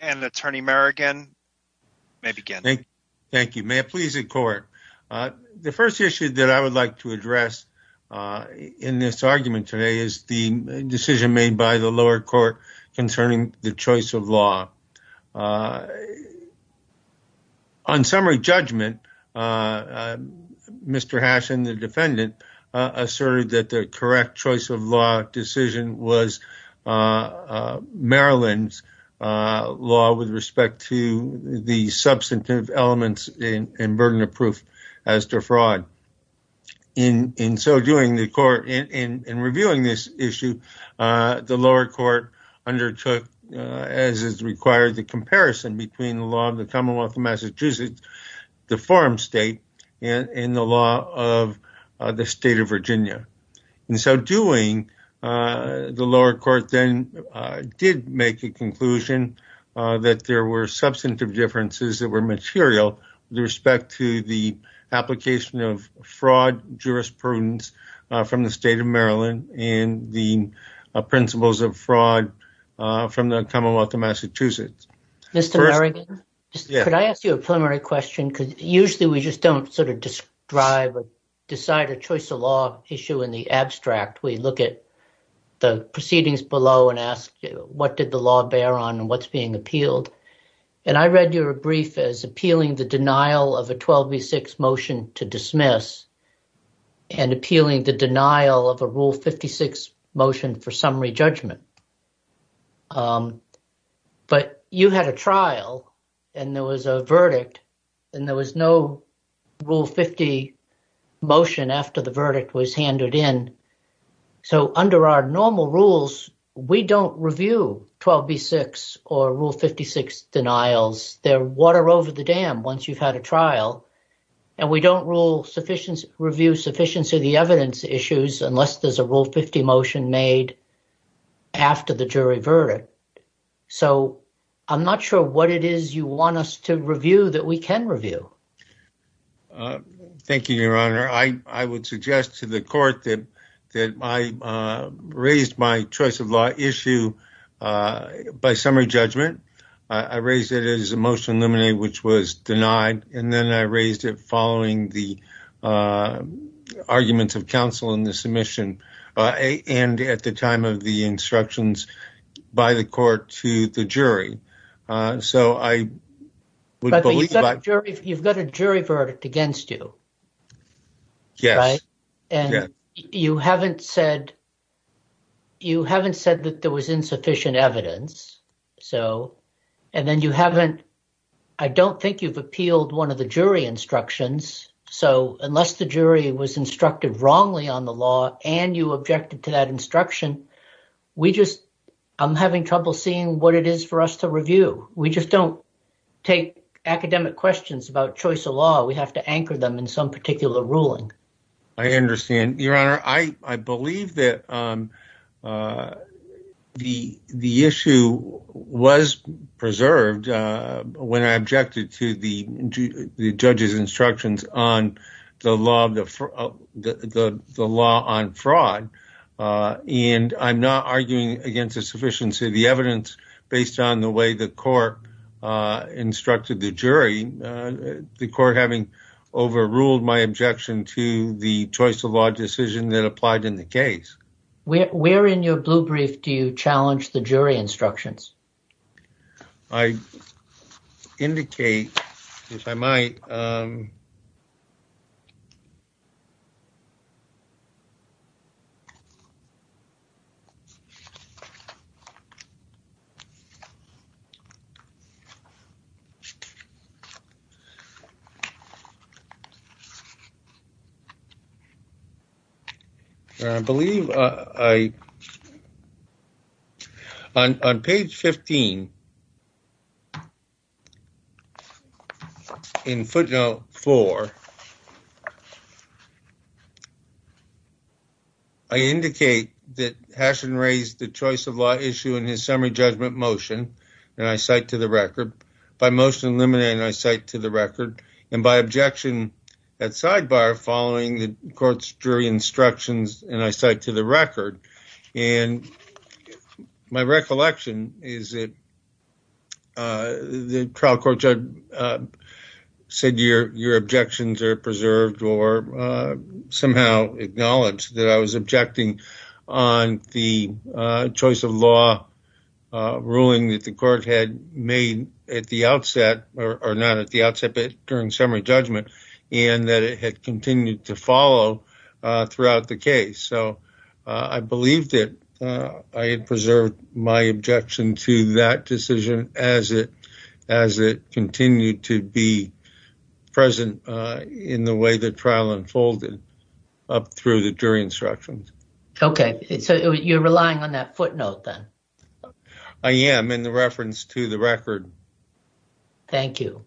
and Attorney Merrigan may begin. Thank you. May it please the court. The first issue that I would like to address in this argument today is the decision made by the lower court concerning the choice of law. On summary judgment, Mr. Haschen, the defendant, asserted that the correct choice of law decision was Maryland's law with respect to the substantive elements in burden of proof as to fraud. In reviewing this issue, the lower court undertook, as is required, the comparison between the law of the Commonwealth of Massachusetts, the farm state, and the law of the state of Virginia. In so doing, the lower court then did make a conclusion that there were substantive differences that were material with respect to the application of fraud jurisprudence from the state of Maryland and the principles of fraud from the Commonwealth of Massachusetts. Mr. Merrigan, could I ask you a preliminary question? Because usually we just don't sort of describe or decide a choice of law issue in the abstract. We look at the proceedings below and ask, what did the law bear on and what's being appealed? And I read your brief as appealing the denial of a 12B6 motion to dismiss and appealing the denial of a Rule 56 motion for summary judgment. But you had a trial and there was a verdict and there was no Rule 50 motion after the verdict was handed in. So under our normal rules, we don't review 12B6 or Rule 56 denials. They're water over the dam once you've had a trial. And we don't review sufficiency of the evidence issues unless there's a Rule 50 motion made after the jury verdict. So I'm not sure what it is you want us to review that we can review. Thank you, Your Honor. I would suggest to the court that I raised my choice of law issue by summary judgment. I raised it as a motion eliminated, which was denied. And then I raised it following the arguments of counsel in the submission. And at the time of the instructions by the court to the jury. So I believe you've got a jury verdict against you. And you haven't said you haven't said that there was insufficient evidence. So and then you haven't. I don't think you've appealed one of the jury instructions. So unless the jury was instructed wrongly on the law and you objected to that instruction, we just I'm having trouble seeing what it is for us to review. We just don't take academic questions about choice of law. We have to anchor them in some particular ruling. I understand, Your Honor. I believe that the issue was preserved when I objected to the judge's instructions on the law of the law on fraud. And I'm not arguing against the sufficiency of the evidence based on the way the court instructed the jury. The court having overruled my objection to the choice of law decision that applied in the case. Where in your blue brief do you challenge the jury instructions? I indicate if I might. I believe I. On page 15. In footnote four. I indicate that hashing raised the choice of law issue in his summary judgment motion, and I cite to the record by motion eliminating. I cite to the record and by objection at sidebar following the court's jury instructions. And I cite to the record and my recollection is that the trial court judge said your objections are preserved or somehow acknowledge that I was objecting on the choice of law. Ruling that the court had made at the outset or not at the outset, but during summary judgment and that it had continued to follow throughout the case. So I believed it. I had preserved my objection to that decision as it as it continued to be present in the way the trial unfolded up through the jury instructions. Okay, so you're relying on that footnote then? I am in the reference to the record. Thank you.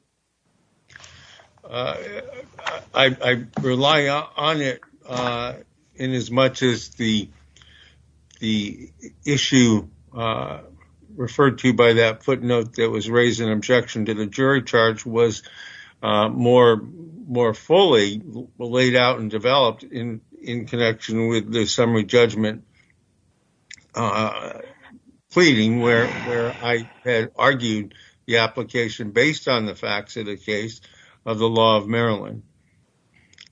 I rely on it in as much as the the issue referred to by that footnote that was raised in objection to the jury charge was more more fully laid out and developed in in connection with the summary judgment. Pleading where I had argued the application based on the facts of the case of the law of Maryland.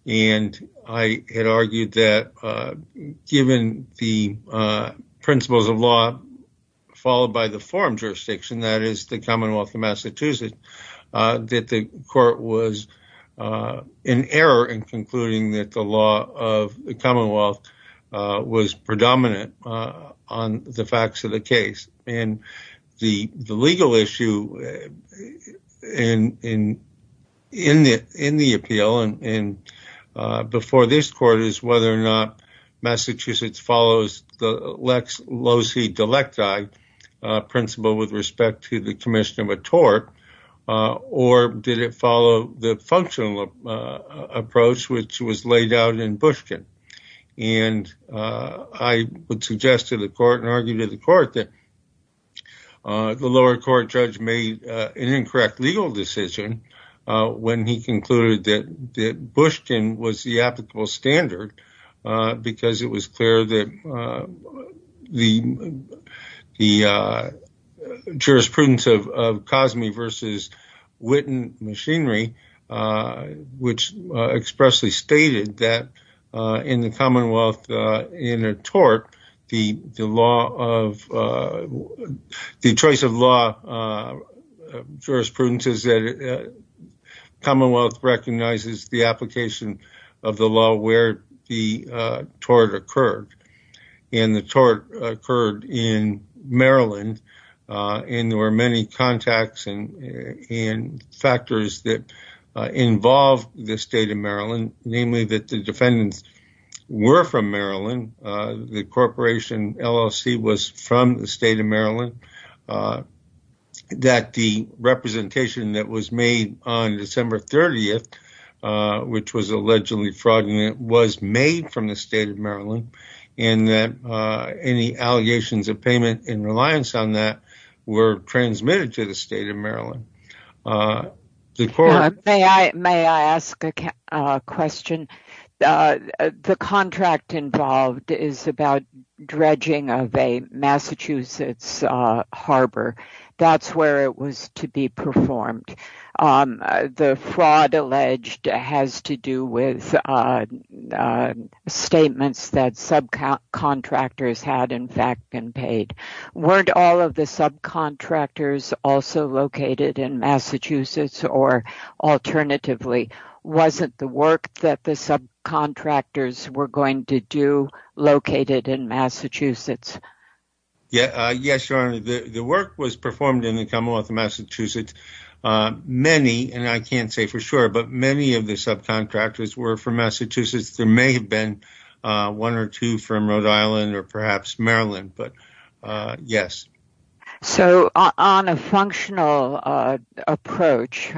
And I had argued that given the principles of law, followed by the forum jurisdiction, that is the Commonwealth of Massachusetts, that the court was in error in concluding that the law of the Commonwealth was predominant on the facts of the case. The legal issue in the appeal before this court is whether or not Massachusetts follows the lex loci delecti principle with respect to the commission of a tort, or did it follow the functional approach which was laid out in Bushkin? And I would suggest to the court and argue to the court that the lower court judge made an incorrect legal decision when he concluded that that Bushkin was the applicable standard because it was clear that the the jurisprudence of Cosme versus Witten machinery. Which expressly stated that in the Commonwealth in a tort, the law of the choice of law jurisprudence is that Commonwealth recognizes the application of the law where the tort occurred in the tort occurred in Maryland. And there were many contacts and factors that involve the state of Maryland, namely that the defendants were from Maryland. The corporation LLC was from the state of Maryland, that the representation that was made on December 30th, which was allegedly fraudulent, was made from the state of Maryland, and that any allegations of payment in reliance on that were transmitted to the state of Maryland. May I ask a question? The contract involved is about dredging of a Massachusetts harbor. That's where it was to be performed. The fraud alleged has to do with statements that subcontractors had in fact been paid. Weren't all of the subcontractors also located in Massachusetts or alternatively, wasn't the work that the subcontractors were going to do located in Massachusetts? Yes, Your Honor, the work was performed in the Commonwealth of Massachusetts. Many, and I can't say for sure, but many of the subcontractors were from Massachusetts. There may have been one or two from Rhode Island or perhaps Maryland, but yes. On a functional approach,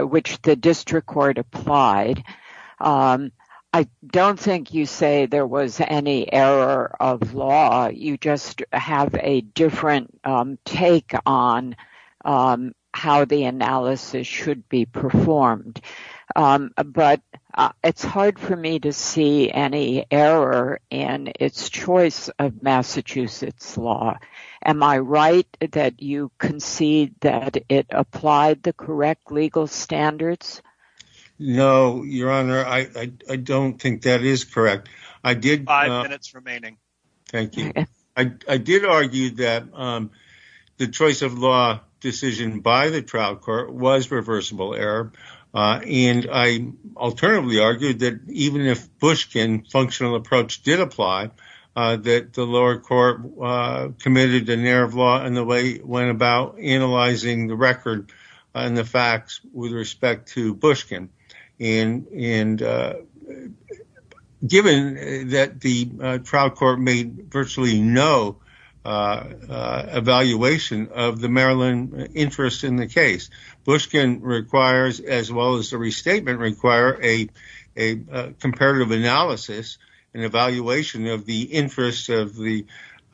which the district court applied, I don't think you say there was any error of law. You just have a different take on how the analysis should be performed. It's hard for me to see any error in its choice of Massachusetts law. Am I right that you concede that it applied the correct legal standards? No, Your Honor, I don't think that is correct. Five minutes remaining. Thank you. I did argue that the choice of law decision by the trial court was reversible error. And I alternatively argued that even if Bushkin functional approach did apply, that the lower court committed an error of law in the way it went about analyzing the record and the facts with respect to Bushkin. And given that the trial court made virtually no evaluation of the Maryland interest in the case, Bushkin requires, as well as the restatement, require a comparative analysis and evaluation of the interests of the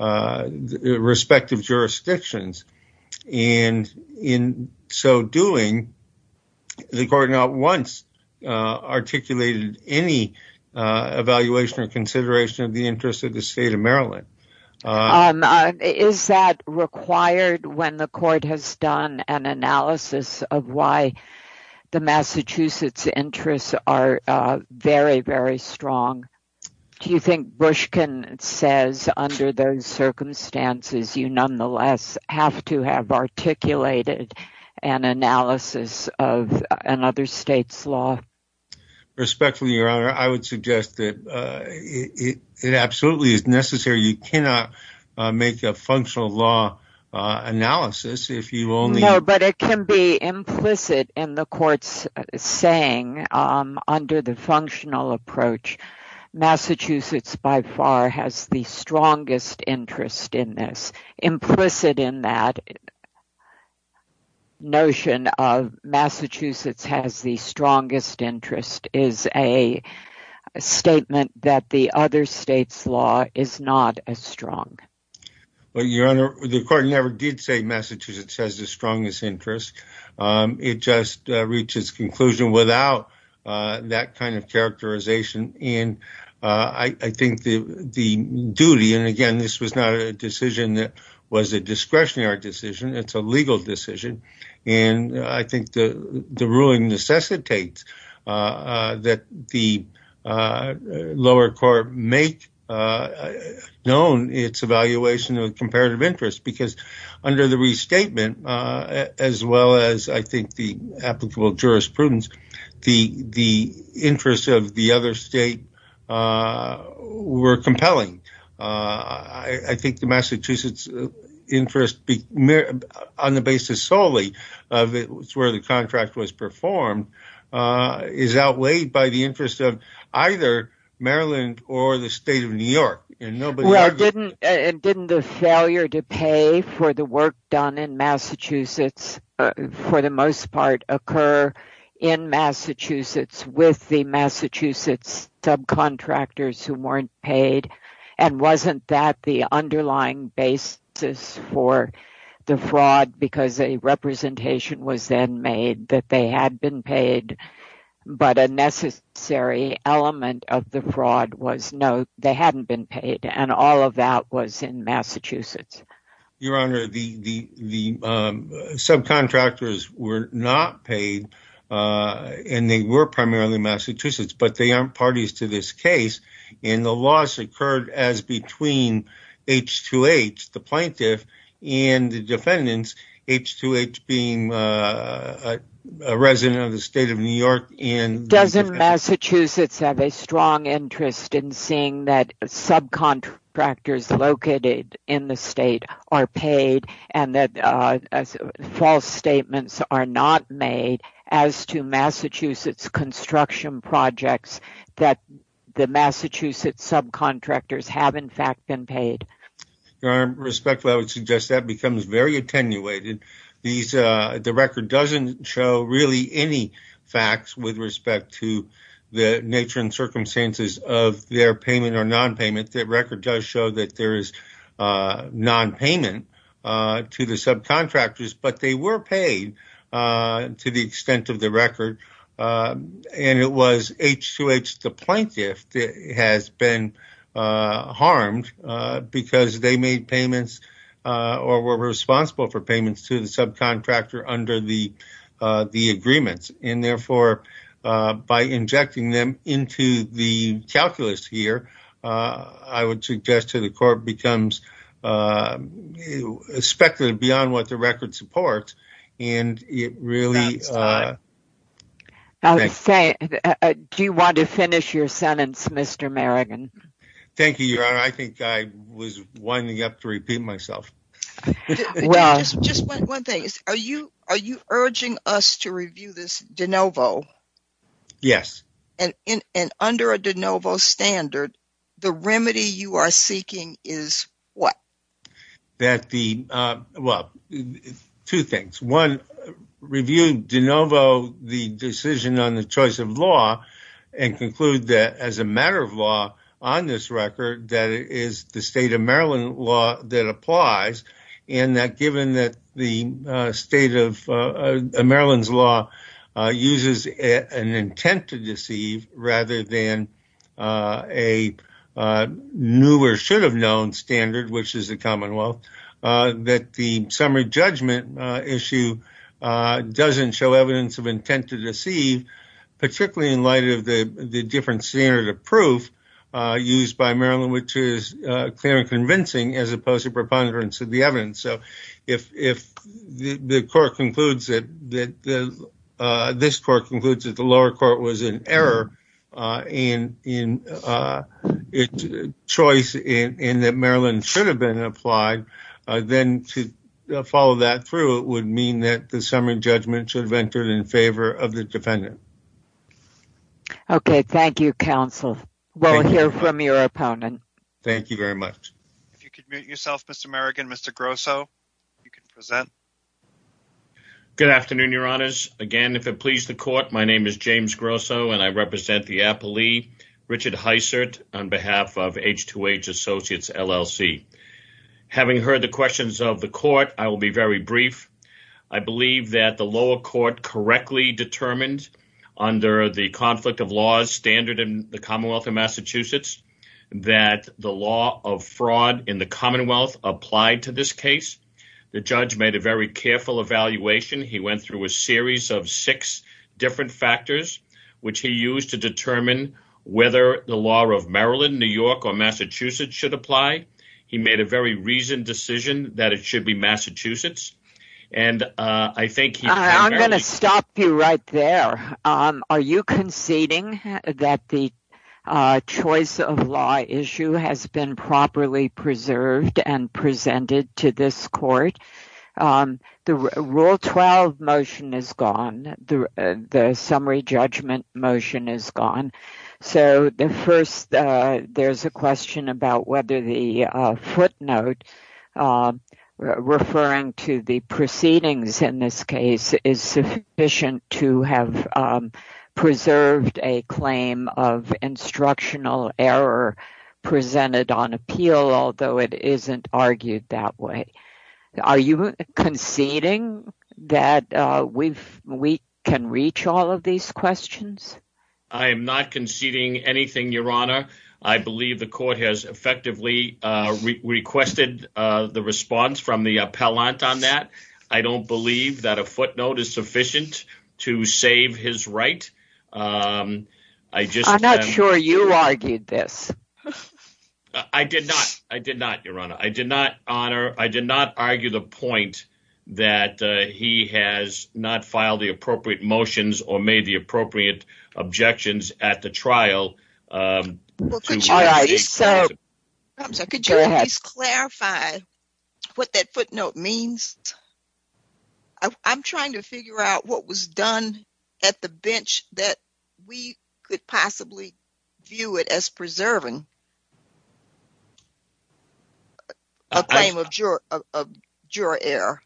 respective jurisdictions. And in so doing, the court not once articulated any evaluation or consideration of the interest of the state of Maryland. Is that required when the court has done an analysis of why the Massachusetts interests are very, very strong? Do you think Bushkin says under those circumstances, you nonetheless have to have articulated an analysis of another state's law? Respectfully, Your Honor, I would suggest that it absolutely is necessary. You cannot make a functional law analysis if you only. No, but it can be implicit in the court's saying under the functional approach, Massachusetts by far has the strongest interest in this implicit in that. Notion of Massachusetts has the strongest interest is a statement that the other states law is not as strong. Well, Your Honor, the court never did say Massachusetts has the strongest interest. It just reaches conclusion without that kind of characterization. And I think the duty and again, this was not a decision that was a discretionary decision. It's a legal decision. And I think the ruling necessitates that the lower court make known its evaluation of comparative interest because under the restatement, as well as I think the applicable jurisprudence, the interests of the other state were compelling. I think the Massachusetts interest on the basis solely of where the contract was performed is outweighed by the interest of either Maryland or the state of New York. Well, didn't the failure to pay for the work done in Massachusetts for the most part occur in Massachusetts with the Massachusetts subcontractors who weren't paid? And wasn't that the underlying basis for the fraud because a representation was then made that they had been paid, but a necessary element of the fraud was no, they hadn't been paid. And all of that was in Massachusetts. Your Honor, the subcontractors were not paid and they were primarily Massachusetts, but they aren't parties to this case. And the loss occurred as between H2H, the plaintiff, and the defendants, H2H being a resident of the state of New York. Doesn't Massachusetts have a strong interest in seeing that subcontractors located in the state are paid and that false statements are not made as to Massachusetts construction projects that the Massachusetts subcontractors have in fact been paid? Your Honor, respectfully, I would suggest that becomes very attenuated. The record doesn't show really any facts with respect to the nature and circumstances of their payment or nonpayment. The record does show that there is nonpayment to the subcontractors, but they were paid to the extent of the record. And it was H2H, the plaintiff, that has been harmed because they made payments or were responsible for payments to the subcontractor under the agreements. And, therefore, by injecting them into the calculus here, I would suggest to the court becomes speculative beyond what the record supports. Do you want to finish your sentence, Mr. Merrigan? Thank you, Your Honor. I think I was winding up to repeat myself. Just one thing. Are you urging us to review this de novo? Yes. And under a de novo standard, the remedy you are seeking is what? Well, two things. One, review de novo the decision on the choice of law and conclude that as a matter of law on this record that it is the state of Maryland law that applies. And that given that the state of Maryland's law uses an intent to deceive rather than a new or should have known standard, which is a commonwealth, that the summary judgment issue doesn't show evidence of intent to deceive. Particularly in light of the different standard of proof used by Maryland, which is clear and convincing as opposed to preponderance of the evidence. So if the court concludes that this court concludes that the lower court was in error in its choice and that Maryland should have been applied, then to follow that through would mean that the summary judgment should have entered in favor of the defendant. Okay. Thank you, counsel. We'll hear from your opponent. Thank you very much. If you could mute yourself, Mr. Merrigan, Mr. Grosso, you can present. Good afternoon, Your Honors. Again, if it pleases the court, my name is James Grosso and I represent the appellee Richard Heisert on behalf of H2H Associates LLC. Having heard the questions of the court, I will be very brief. I believe that the lower court correctly determined under the conflict of laws standard in the Commonwealth of Massachusetts that the law of fraud in the Commonwealth applied to this case. The judge made a very careful evaluation. He went through a series of six different factors, which he used to determine whether the law of Maryland, New York or Massachusetts should apply. He made a very reasoned decision that it should be Massachusetts. I'm going to stop you right there. Are you conceding that the choice of law issue has been properly preserved and presented to this court? The Rule 12 motion is gone. The summary judgment motion is gone. There's a question about whether the footnote referring to the proceedings in this case is sufficient to have preserved a claim of instructional error presented on appeal, although it isn't argued that way. Are you conceding that we can reach all of these questions? I am not conceding anything, Your Honor. I believe the court has effectively requested the response from the appellant on that. I don't believe that a footnote is sufficient to save his right. I'm not sure you argued this. I did not, Your Honor. I did not argue the point that he has not filed the appropriate motions or made the appropriate objections at the trial. Could you please clarify what that footnote means? I'm trying to figure out what was done at the bench that we could possibly view it as preserving a claim of juror error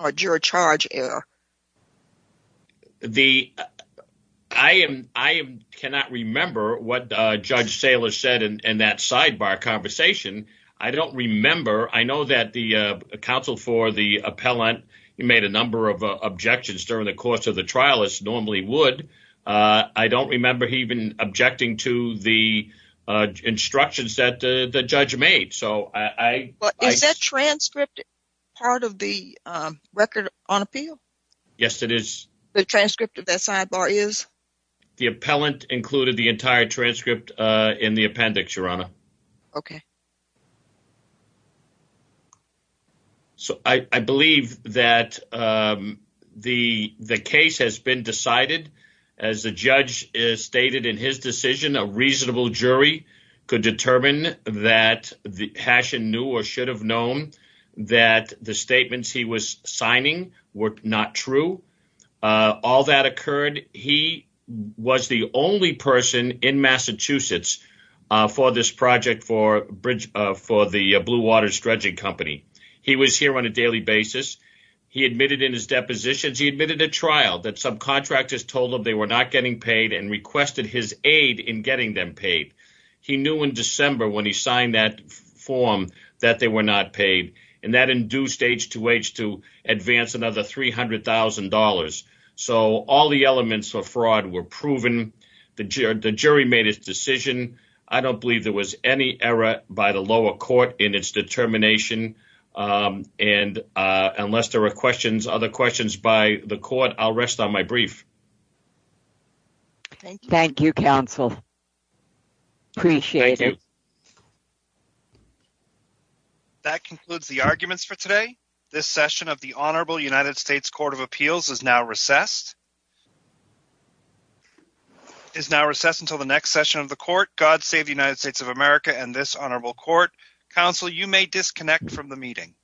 or juror charge error. I cannot remember what Judge Saylor said in that sidebar conversation. I don't remember. I know that the counsel for the appellant made a number of objections during the course of the trial as normally would. I don't remember even objecting to the instructions that the judge made. Is that transcript part of the record on appeal? Yes, it is. The transcript of that sidebar is? The appellant included the entire transcript in the appendix, Your Honor. Okay. So I believe that the case has been decided. As the judge stated in his decision, a reasonable jury could determine that Hashen knew or should have known that the statements he was signing were not true. All that occurred. He was the only person in Massachusetts for this project for the Blue Water Strudging Company. He was here on a daily basis. He admitted in his depositions. He admitted at trial that some contractors told him they were not getting paid and requested his aid in getting them paid. He knew in December when he signed that form that they were not paid and that induced H2H to advance another $300,000. So all the elements of fraud were proven. The jury made its decision. I don't believe there was any error by the lower court in its determination. And unless there are questions, other questions by the court, I'll rest on my brief. Thank you, counsel. Appreciate it. That concludes the arguments for today. This session of the Honorable United States Court of Appeals is now recessed. It is now recessed until the next session of the court. God save the United States of America and this honorable court. Counsel, you may disconnect from the meeting.